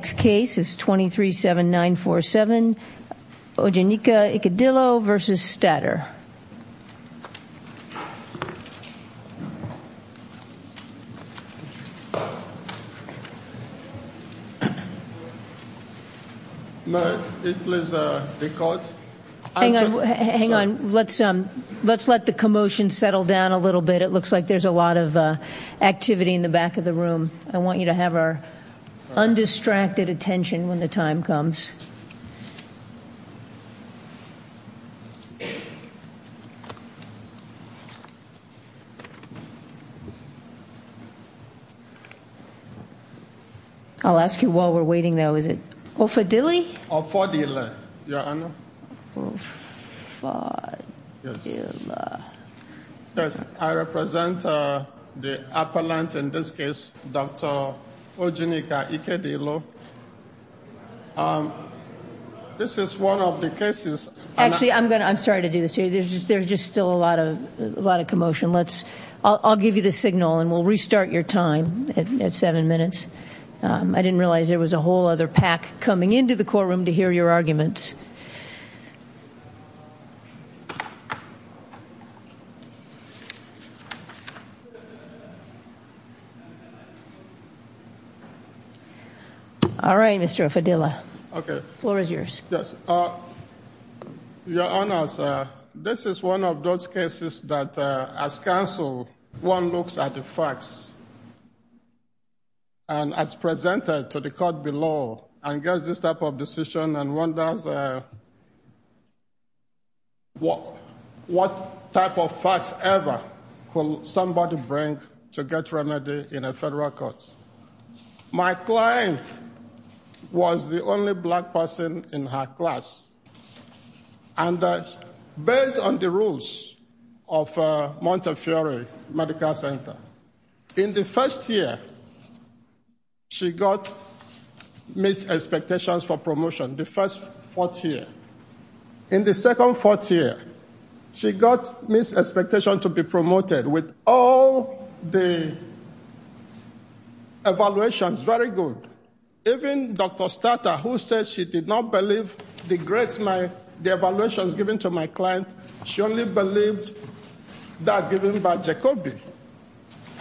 The next case is 23-7-9-4-7 Ogenyika Ikedilo v. Statter Hang on, let's let the commotion settle down a little bit. It looks like there's a lot of activity in the back of the room. I want you to have our undistracted attention when the time comes. I'll ask you while we're waiting though, is it Ofadili? Ofadila, your honor. Ofadila. Yes, I represent the appellant in this case, Dr. Ogenyika Ikedilo. Actually, I'm sorry to do this to you. There's just still a lot of commotion. I'll give you the signal and we'll restart your time at seven minutes. I didn't realize there was a whole other pack coming into the courtroom to hear your arguments. All right, Mr. Ofadila. Okay. The floor is yours. Your honor, this is one of those cases that as counsel one looks at the facts and as presented to the court below and gets this type of decision and wonders what type of facts ever could somebody bring to get remedy in a federal court. My client was the only black person in her class. And based on the rules of Montefiore Medical Center, in the first year she got missed expectations for promotion, the first fourth year. In the second fourth year, she got missed expectation to be promoted with all the evaluations very good. Even Dr. Stata who said she did not believe the evaluation given to my client, she only believed that given by Jacobi.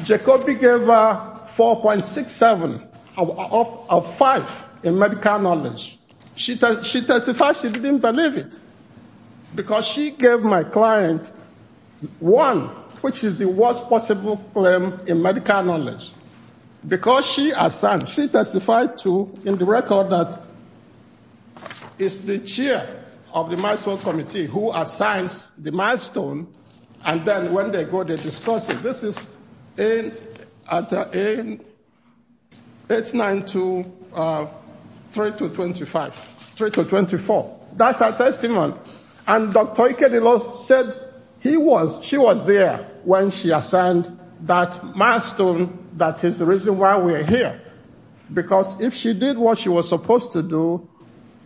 Jacobi gave her 4.67 out of 5 in medical knowledge. She testified she didn't believe it because she gave my client one which is the worst possible claim in medical knowledge. Because she testified to in the record that it's the chair of the milestone committee who assigns the milestone and then when they go they discuss it. This is 892-3224. That's her testimony. And Dr. Ikedilo said she was there when she assigned that milestone. That is the reason why we are here. Because if she did what she was supposed to do,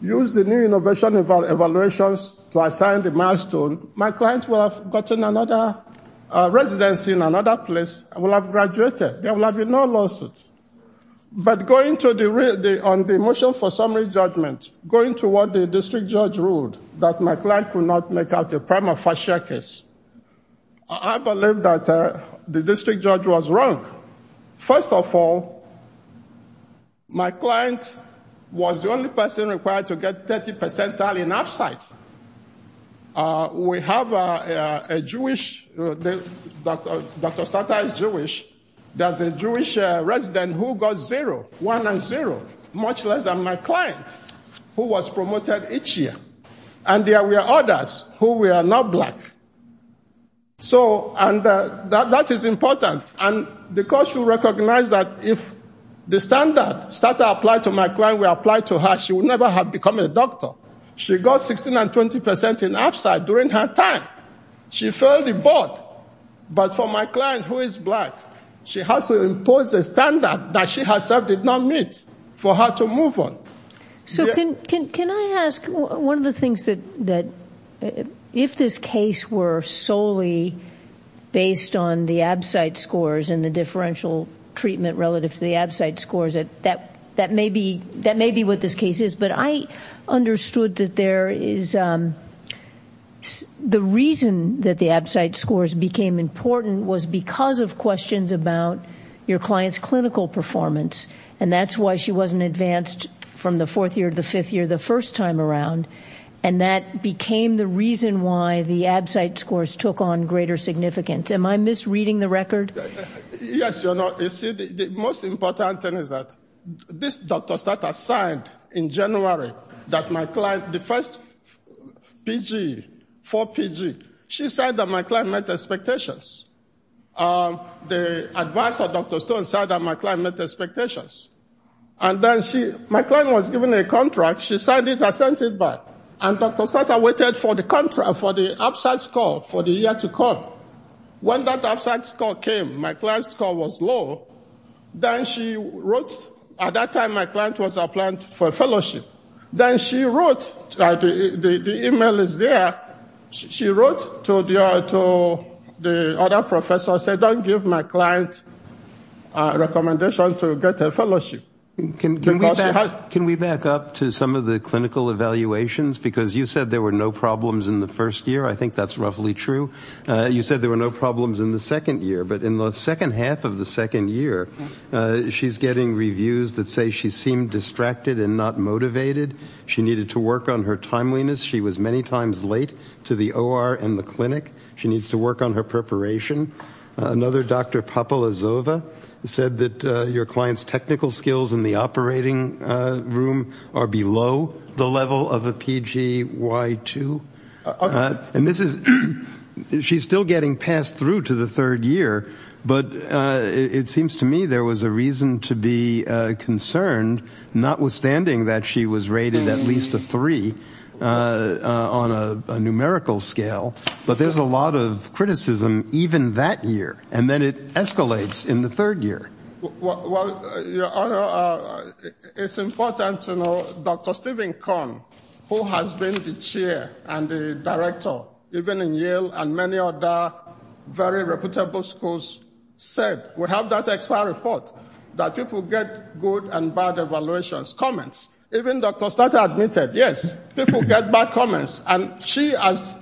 use the new innovation evaluations to assign the milestone, my client would have gotten another residency in another place and would have graduated. There would have been no lawsuit. But going to the motion for summary judgment, going to what the district judge ruled that my client could not make out the prima facie case, I believe that the district judge was wrong. First of all, my client was the only person required to get 30 percentile in up site. We have a Jewish, Dr. Stata is Jewish. There's a Jewish resident who got zero, one and zero, much less than my client who was promoted each year. And there were others who were not black. So that is important. And because you recognize that if the standard, Stata applied to my client, we applied to her, she would never have become a doctor. She got 16 and 20 percent in up site during her time. She failed the board. But for my client who is black, she has to impose a standard that she herself did not meet for her to move on. So can I ask one of the things that if this case were solely based on the ab site scores and the differential treatment relative to the ab site scores, that may be what this case is. But I understood that there is the reason that the ab site scores became important was because of questions about your client's clinical performance. And that's why she wasn't advanced from the fourth year to the fifth year the first time around. And that became the reason why the ab site scores took on greater significance. Am I misreading the record? Yes, you're not. You see, the most important thing is that this Dr. Stata signed in January that my client, the first PG, four PG, she said that my client met expectations. The advisor, Dr. Stone, said that my client met expectations. And then she, my client was given a contract. She signed it. I sent it back. And Dr. Stata waited for the contract, for the ab site score for the year to come. When that ab site score came, my client's score was low. Then she wrote, at that time my client was applying for a fellowship. Then she wrote, the e-mail is there, she wrote to the other professor, said don't give my client recommendations to get a fellowship. Can we back up to some of the clinical evaluations? Because you said there were no problems in the first year. I think that's roughly true. You said there were no problems in the second year. But in the second half of the second year, she's getting reviews that say she seemed distracted and not motivated. She needed to work on her timeliness. She was many times late to the OR and the clinic. She needs to work on her preparation. Another, Dr. Popola-Zova, said that your client's technical skills in the operating room are below the level of a PGY2. She's still getting passed through to the third year. But it seems to me there was a reason to be concerned, notwithstanding that she was rated at least a three on a numerical scale. But there's a lot of criticism even that year. And then it escalates in the third year. Well, Your Honor, it's important to know Dr. Stephen Conn, who has been the chair and the director, even in Yale and many other very reputable schools, said, we have that X-File report, that people get good and bad evaluations, comments. Even Dr. Stata admitted, yes, people get bad comments. And she herself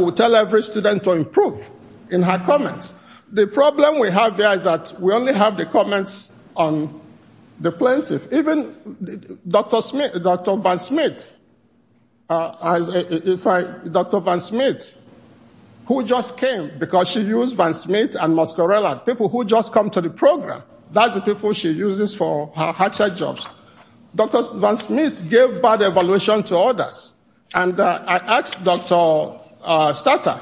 will tell every student to improve in her comments. The problem we have there is that we only have the comments on the plaintiff. Even Dr. Van Smeet, who just came because she used Van Smeet and Moscarella, people who just come to the program, that's the people she uses for her hatchet jobs. Dr. Van Smeet gave bad evaluation to others. And I asked Dr. Stata,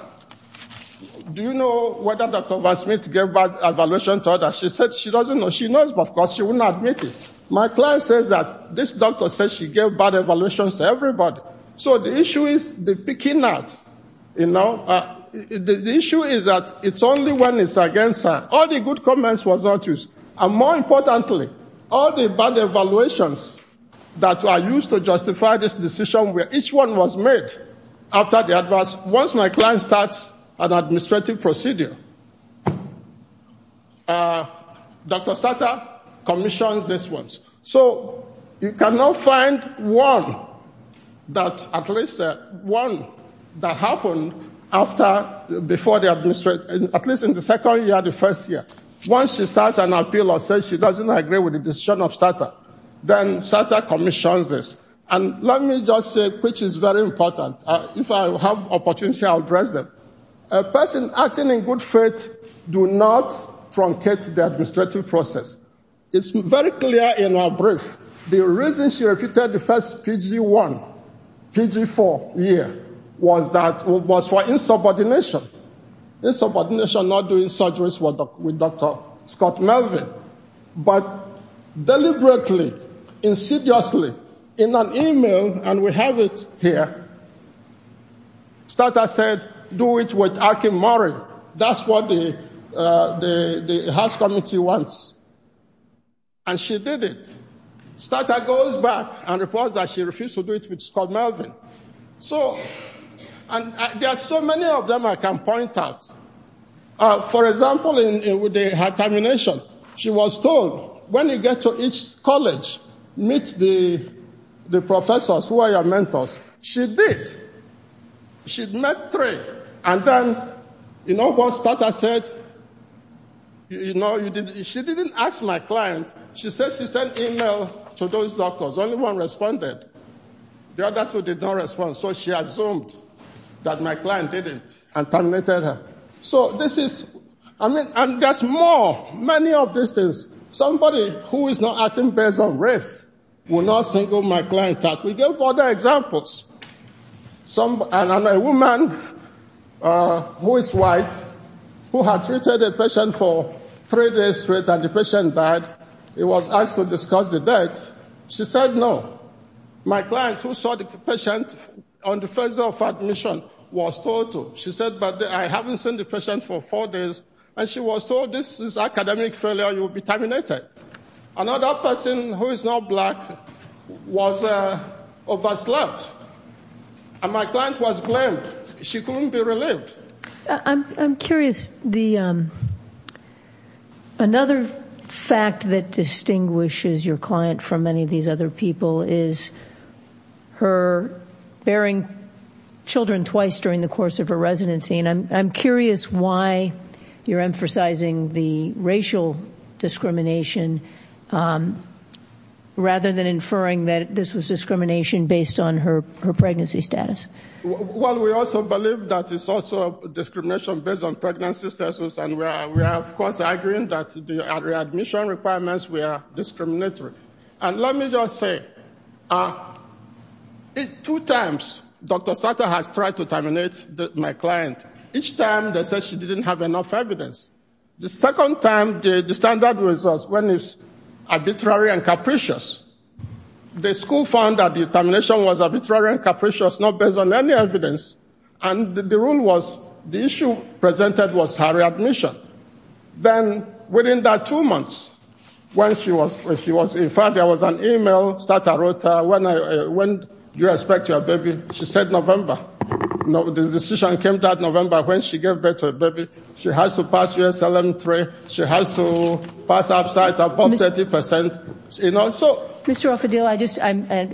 do you know whether Dr. Van Smeet gave bad evaluation to others? She said she doesn't know. She knows, but of course she wouldn't admit it. My client says that this doctor says she gave bad evaluations to everybody. So the issue is the picking out, you know. The issue is that it's only when it's against her. All the good comments was not used. And more importantly, all the bad evaluations that are used to justify this decision, where each one was made after the advice, once my client starts an administrative procedure, Dr. Stata commissions this one. So you cannot find one that, at least one that happened after, before the administrative, at least in the second year, the first year. Once she starts an appeal or says she doesn't agree with the decision of Stata, then Stata commissions this. And let me just say, which is very important, if I have opportunity I'll address it. A person acting in good faith do not truncate the administrative process. It's very clear in her brief. The reason she repeated the first PG-1, PG-4 year was for insubordination. Insubordination, not doing surgeries with Dr. Scott Melvin. But deliberately, insidiously, in an email, and we have it here, Stata said do it with Akin Morin. That's what the House Committee wants. And she did it. Stata goes back and reports that she refused to do it with Scott Melvin. So, and there are so many of them I can point at. For example, in her termination, she was told, when you get to each college, meet the professors who are your mentors. She did. She met three. And then, you know what Stata said? She didn't ask my client. She said she sent email to those doctors. Only one responded. The other two did not respond, so she assumed that my client didn't and terminated her. So this is, I mean, and there's more, many of these things. Somebody who is not acting based on race will not single my client out. We gave other examples. And a woman who is white who had treated a patient for three days straight and the patient died, it was asked to discuss the death. She said no. My client who saw the patient on the first day of admission was told to. She said, but I haven't seen the patient for four days. And she was told this is academic failure, you will be terminated. Another person who is not black was overslept. And my client was blamed. She couldn't be relieved. I'm curious. Another fact that distinguishes your client from many of these other people is her bearing children twice during the course of her residency. And I'm curious why you're emphasizing the racial discrimination rather than inferring that this was discrimination based on her pregnancy status. Well, we also believe that it's also discrimination based on pregnancy status. And we are, of course, arguing that the admission requirements were discriminatory. And let me just say, two times Dr. Stotter has tried to terminate my client. Each time they said she didn't have enough evidence. The second time, the standard was when it's arbitrary and capricious. The school found that the termination was arbitrary and capricious, not based on any evidence. And the rule was the issue presented was her admission. Then, within that two months, when she was, in fact, there was an e-mail, Stotter wrote, when do you expect your baby? She said November. The decision came that November when she gave birth to a baby. She has to pass USLM 3. She has to pass upside, above 30%. You know, so. Mr. El-Fadil,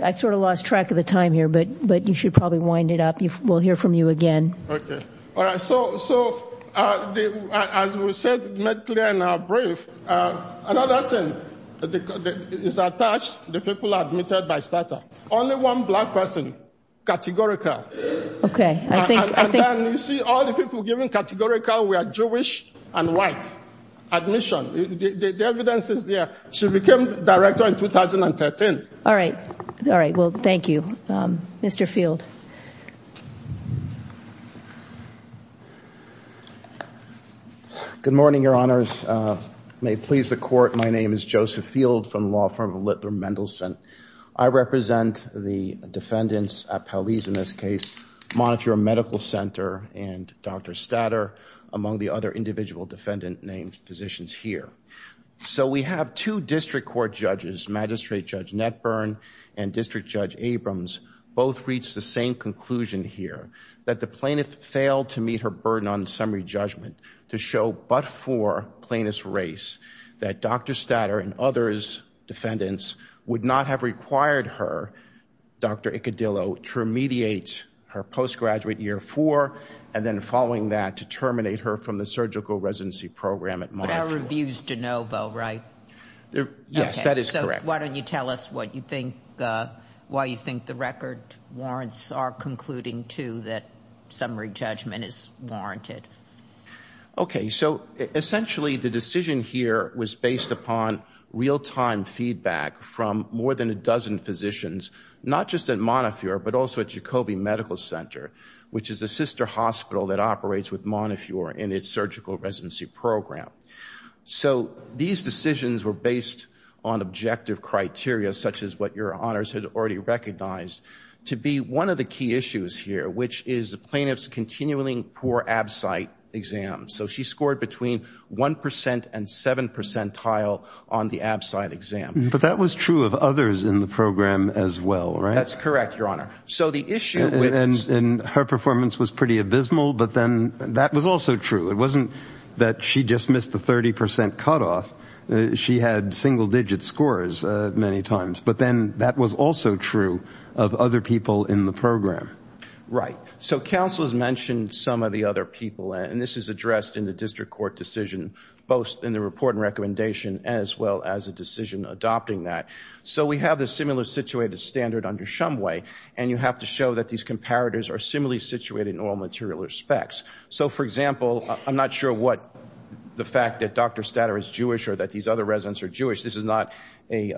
I sort of lost track of the time here, but you should probably wind it up. We'll hear from you again. Okay. All right. So, as we said, made clear in our brief, another thing is attached, the people admitted by Stotter. Only one black person, categorical. Okay. I think. And then you see all the people given categorical were Jewish and white admission. The evidence is there. She became director in 2013. All right. All right. Well, thank you. Mr. Field. Good morning, your honors. May it please the court. My name is Joseph Field from the law firm of Littler Mendelsohn. I represent the defendants at Pelley's in this case, Monitor Medical Center and Dr. Stotter, among the other individual defendant named physicians here. So we have two district court judges, Magistrate Judge Netburn and District Judge Abrams, both reached the same conclusion here, that the plaintiff failed to meet her burden on summary judgment to show but for plaintiff's race, that Dr. Stotter and others defendants would not have required her, Dr. Icodillo, to remediate her postgraduate year for, and then following that, to terminate her from the surgical residency program at Monitor. They're reviews de novo, right? Yes. That is correct. So why don't you tell us what you think, why you think the record warrants our concluding, too, that summary judgment is warranted. Okay. So essentially the decision here was based upon real-time feedback from more than a dozen physicians, not just at Montefiore, but also at Jacoby Medical Center, which is a sister hospital that operates with Montefiore in its surgical residency program. So these decisions were based on objective criteria, such as what your honors had already recognized, to be one of the key issues here, which is the plaintiff's continually poor abcite exam. So she scored between 1% and 7% on the abcite exam. But that was true of others in the program as well, right? That's correct, Your Honor. And her performance was pretty abysmal, but then that was also true. It wasn't that she just missed the 30% cutoff. She had single-digit scores many times. But then that was also true of other people in the program. Right. So counsel has mentioned some of the other people, and this is addressed in the district court decision, both in the report and recommendation as well as a decision adopting that. So we have the similar-situated standard under Shumway, and you have to show that these comparators are similarly situated in all material respects. So, for example, I'm not sure what the fact that Dr. Statter is Jewish or that these other residents are Jewish. This is not a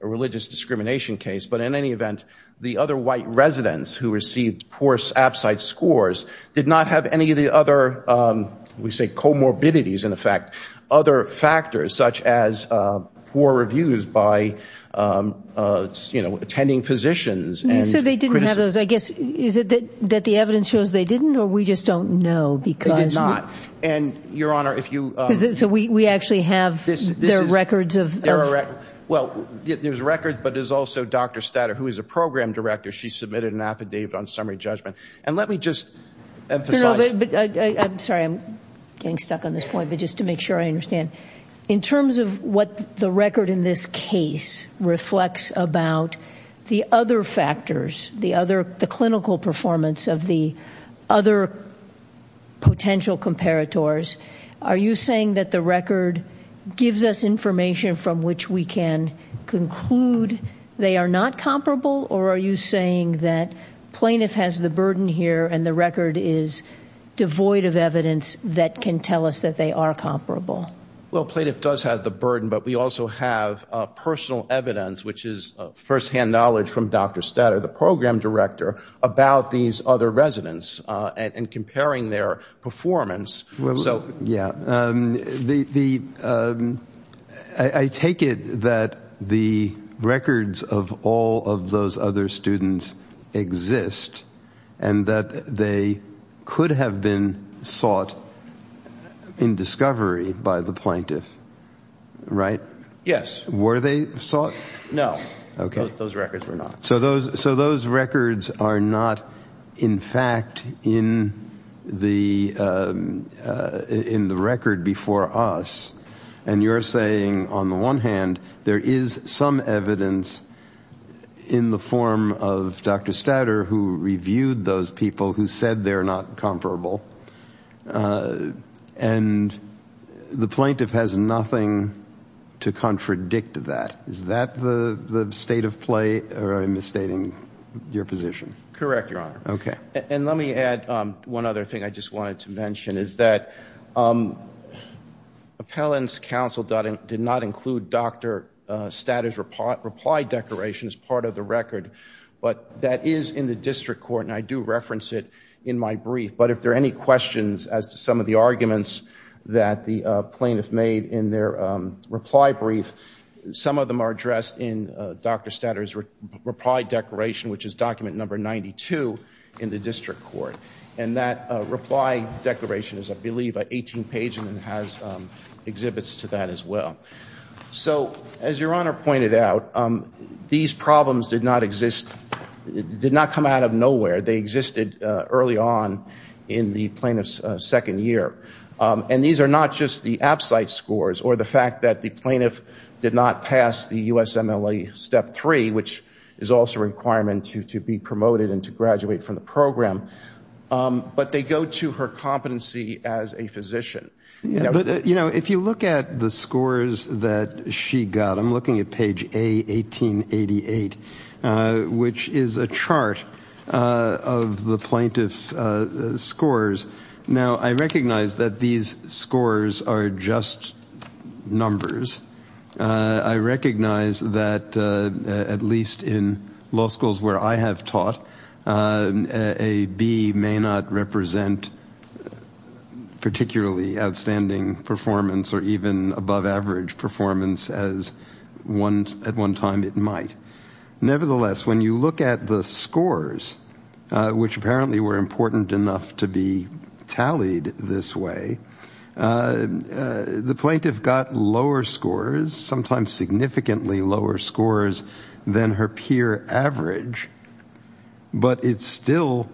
religious discrimination case. But in any event, the other white residents who received poor abcite scores did not have any of the other, we say comorbidities, in effect, other factors such as poor reviews by attending physicians. So they didn't have those. I guess is it that the evidence shows they didn't, or we just don't know? They did not. And, Your Honor, if you ---- So we actually have their records of ---- Well, there's records, but there's also Dr. Statter, who is a program director. She submitted an affidavit on summary judgment. And let me just emphasize ---- No, no, no. I'm sorry. I'm getting stuck on this point. But just to make sure I understand, in terms of what the record in this case reflects about the other factors, the clinical performance of the other potential comparators, are you saying that the record gives us information from which we can conclude they are not comparable, or are you saying that plaintiff has the burden here and the record is devoid of evidence that can tell us that they are comparable? Well, plaintiff does have the burden, but we also have personal evidence, which is firsthand knowledge from Dr. Statter, the program director, about these other residents and comparing their performance. Yeah. I take it that the records of all of those other students exist and that they could have been sought in discovery by the plaintiff, right? Yes. Were they sought? No. Okay. Those records were not. So those records are not, in fact, in the record before us. And you're saying, on the one hand, there is some evidence in the form of Dr. Statter, who reviewed those people who said they're not comparable, and the plaintiff has nothing to contradict that. Is that the state of play, or am I misstating your position? Correct, Your Honor. Okay. And let me add one other thing I just wanted to mention, is that appellants counsel did not include Dr. Statter's reply declaration as part of the record, but that is in the district court, and I do reference it in my brief. But if there are any questions as to some of the arguments that the plaintiff made in their reply brief, some of them are addressed in Dr. Statter's reply declaration, which is document number 92 in the district court. And that reply declaration is, I believe, an 18-page, and it has exhibits to that as well. So as Your Honor pointed out, these problems did not exist, did not come out of nowhere. They existed early on in the plaintiff's second year. And these are not just the abcite scores or the fact that the plaintiff did not pass the USMLE Step 3, which is also a requirement to be promoted and to graduate from the program, but they go to her competency as a physician. But, you know, if you look at the scores that she got, I'm looking at page A, 1888, which is a chart of the plaintiff's scores. Now, I recognize that these scores are just numbers. I recognize that at least in law schools where I have taught, a B may not represent particularly outstanding performance or even above-average performance as at one time it might. Nevertheless, when you look at the scores, which apparently were important enough to be tallied this way, the plaintiff got lower scores, sometimes significantly lower scores, than her peer average. But it's still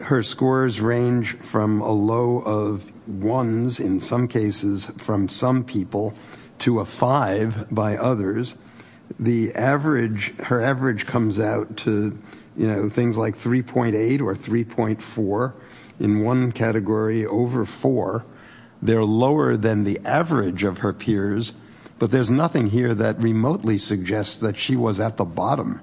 her scores range from a low of ones, in some cases, from some people, to a five by others. Her average comes out to things like 3.8 or 3.4, in one category, over four. They're lower than the average of her peers, but there's nothing here that remotely suggests that she was at the bottom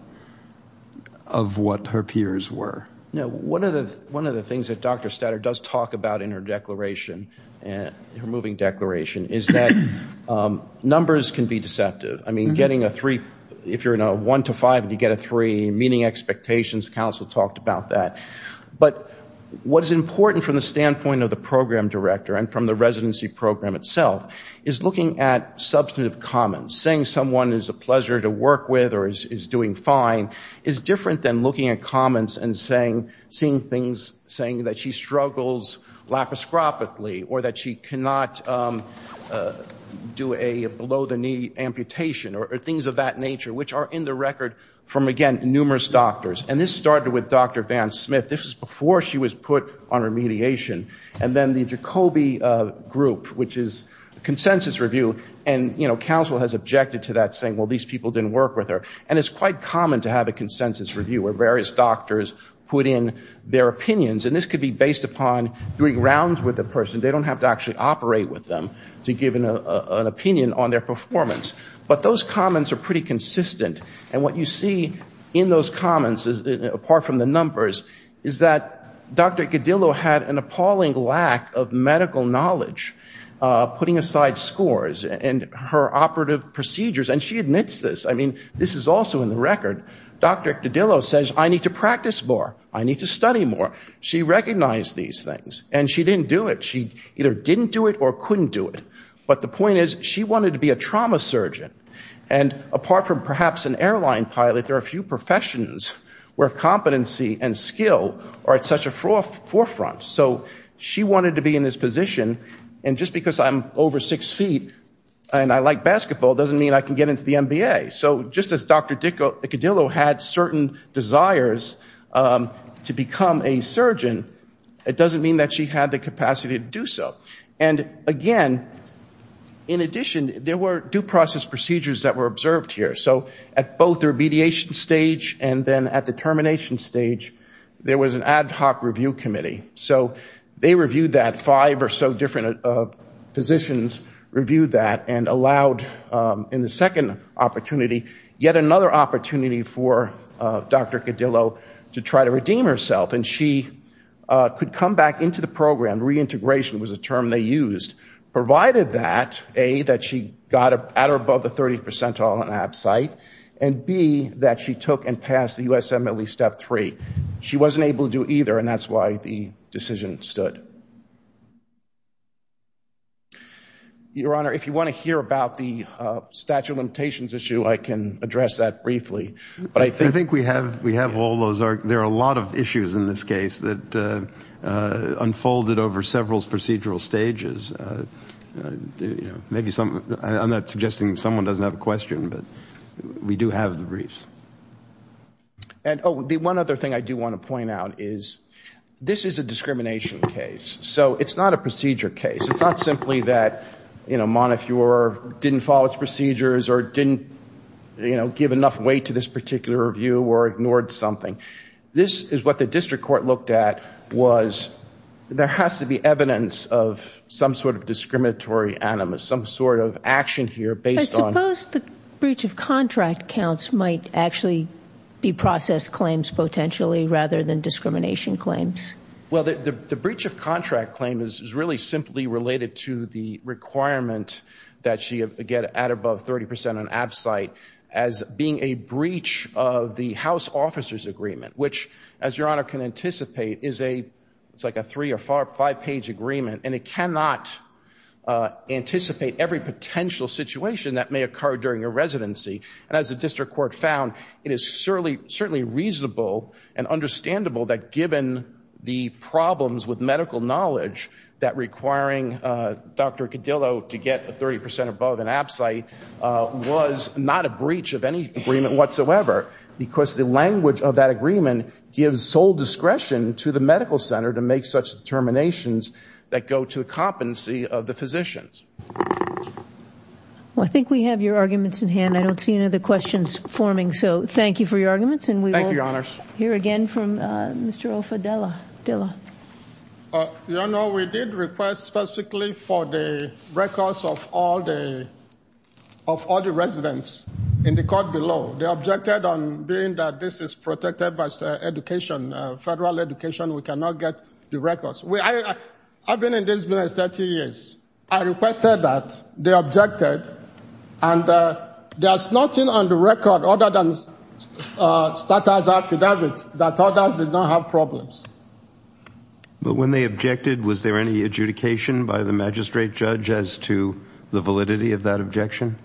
of what her peers were. One of the things that Dr. Statter does talk about in her declaration, her moving declaration, is that numbers can be deceptive. I mean, getting a three, if you're in a one to five and you get a three, meaning expectations, counsel talked about that. But what is important from the standpoint of the program director and from the residency program itself is looking at substantive comments. Saying someone is a pleasure to work with or is doing fine is different than looking at comments saying that she struggles laparoscopically or that she cannot do a below-the-knee amputation or things of that nature, which are in the record from, again, numerous doctors. And this started with Dr. Van Smith. This was before she was put on remediation. And then the Jacoby group, which is a consensus review, and counsel has objected to that saying, well, these people didn't work with her. And it's quite common to have a consensus review where various doctors put in their opinions. And this could be based upon doing rounds with a person. They don't have to actually operate with them to give an opinion on their performance. But those comments are pretty consistent. And what you see in those comments, apart from the numbers, is that Dr. Gedillo had an appalling lack of medical knowledge, putting aside scores, and her operative procedures, and she admits this. I mean, this is also in the record. Dr. Gedillo says, I need to practice more. I need to study more. She recognized these things. And she didn't do it. She either didn't do it or couldn't do it. But the point is, she wanted to be a trauma surgeon. And apart from perhaps an airline pilot, there are a few professions where competency and skill are at such a forefront. So she wanted to be in this position. And just because I'm over six feet and I like basketball doesn't mean I can get into the NBA. So just as Dr. Gedillo had certain desires to become a surgeon, it doesn't mean that she had the capacity to do so. And, again, in addition, there were due process procedures that were observed here. So at both the remediation stage and then at the termination stage, there was an ad hoc review committee. So they reviewed that. Five or so different physicians reviewed that and allowed, in the second opportunity, yet another opportunity for Dr. Gedillo to try to redeem herself. And she could come back into the program. Reintegration was a term they used. Provided that, A, that she got at or above the 30th percentile on abcite, and, B, that she took and passed the USMLE Step 3. She wasn't able to do either, and that's why the decision stood. Your Honor, if you want to hear about the statute of limitations issue, I can address that briefly. I think we have all those. There are a lot of issues in this case that unfolded over several procedural stages. I'm not suggesting someone doesn't have a question, but we do have the briefs. And, oh, the one other thing I do want to point out is this is a discrimination case. So it's not a procedure case. It's not simply that, you know, Montefiore didn't follow its procedures or didn't, you know, give enough weight to this particular review or ignored something. This is what the district court looked at was there has to be evidence of some sort of discriminatory animus, some sort of action here based on- So the breach of contract counts might actually be processed claims potentially rather than discrimination claims? Well, the breach of contract claim is really simply related to the requirement that she get at above 30 percent on abcite as being a breach of the House Officers Agreement, which, as Your Honor can anticipate, is like a three- or five-page agreement, and it cannot anticipate every potential situation that may occur during a residency. And as the district court found, it is certainly reasonable and understandable that given the problems with medical knowledge, that requiring Dr. Codillo to get a 30 percent above an abcite was not a breach of any agreement whatsoever because the language of that agreement gives sole discretion to the medical center to make such determinations that go to the competency of the physicians. Well, I think we have your arguments in hand. I don't see any other questions forming, so thank you for your arguments. Thank you, Your Honors. And we will hear again from Mr. Ofadila. Your Honor, we did request specifically for the records of all the residents in the court below. They objected on being that this is protected by education, federal education. We cannot get the records. I've been in this business 30 years. I requested that. They objected. And there's nothing on the record other than status affidavits that others did not have problems. But when they objected, was there any adjudication by the magistrate judge as to the validity of that objection?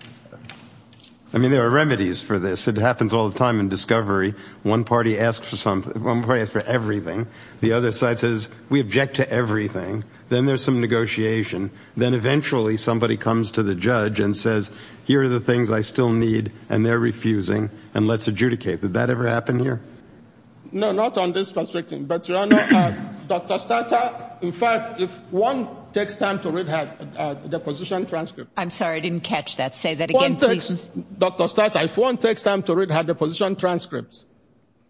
I mean, there are remedies for this. It happens all the time in discovery. One party asks for everything. The other side says, we object to everything. Then there's some negotiation. Then eventually somebody comes to the judge and says, here are the things I still need, and they're refusing, and let's adjudicate. Did that ever happen here? No, not on this perspective. But, Your Honor, Dr. Stata, in fact, if one takes time to read the position transcripts. I'm sorry, I didn't catch that. Say that again, please. Dr. Stata, if one takes time to read her position transcripts,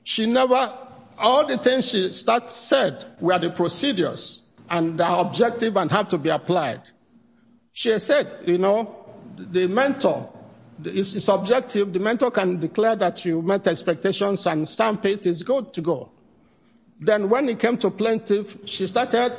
she never, all the things she said were the procedures and the objective and have to be applied. She has said, you know, the mentor is subjective. The mentor can declare that you met expectations and stamp it. It's good to go. Then when it came to plaintiff, she started,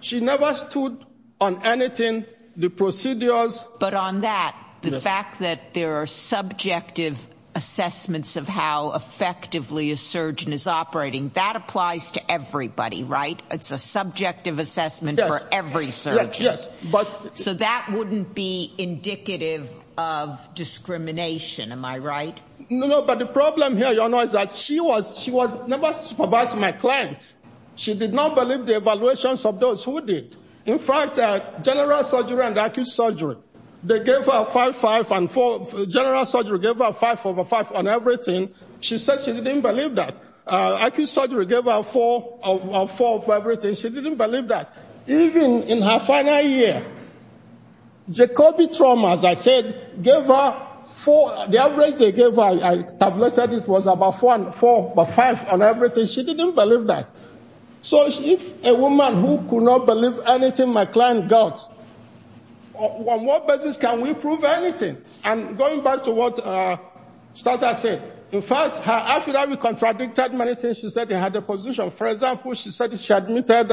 she never stood on anything, the procedures. But on that, the fact that there are subjective assessments of how effectively a surgeon is operating, that applies to everybody, right? It's a subjective assessment for every surgeon. So that wouldn't be indicative of discrimination, am I right? No, but the problem here, Your Honor, is that she was never supervising my client. She did not believe the evaluations of those who did. In fact, general surgery and acute surgery, they gave her five, five, and four. General surgery gave her five over five on everything. She said she didn't believe that. Acute surgery gave her four of everything. She didn't believe that. Even in her final year, Jacobi trauma, as I said, gave her four. The average they gave her, I tabulated it, was about four over five on everything. She didn't believe that. So if a woman who could not believe anything my client got, on what basis can we prove anything? And going back to what Stata said, in fact, after that, we contradicted many things she said in her deposition. For example, she said she admitted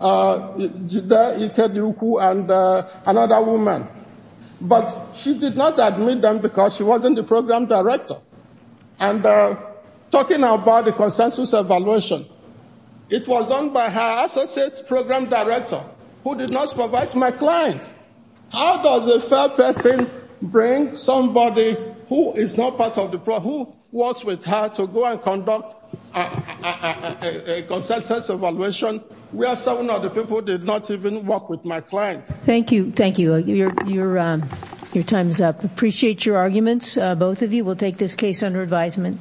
Jida Ikeduku and another woman. But she did not admit them because she wasn't the program director. And talking about the consensus evaluation, it was done by her associate program director who did not supervise my client. How does a fair person bring somebody who is not part of the program, who works with her to go and conduct a consensus evaluation where some of the people did not even work with my client? Thank you. Thank you. Your time is up. Appreciate your arguments, both of you. We'll take this case under advisement.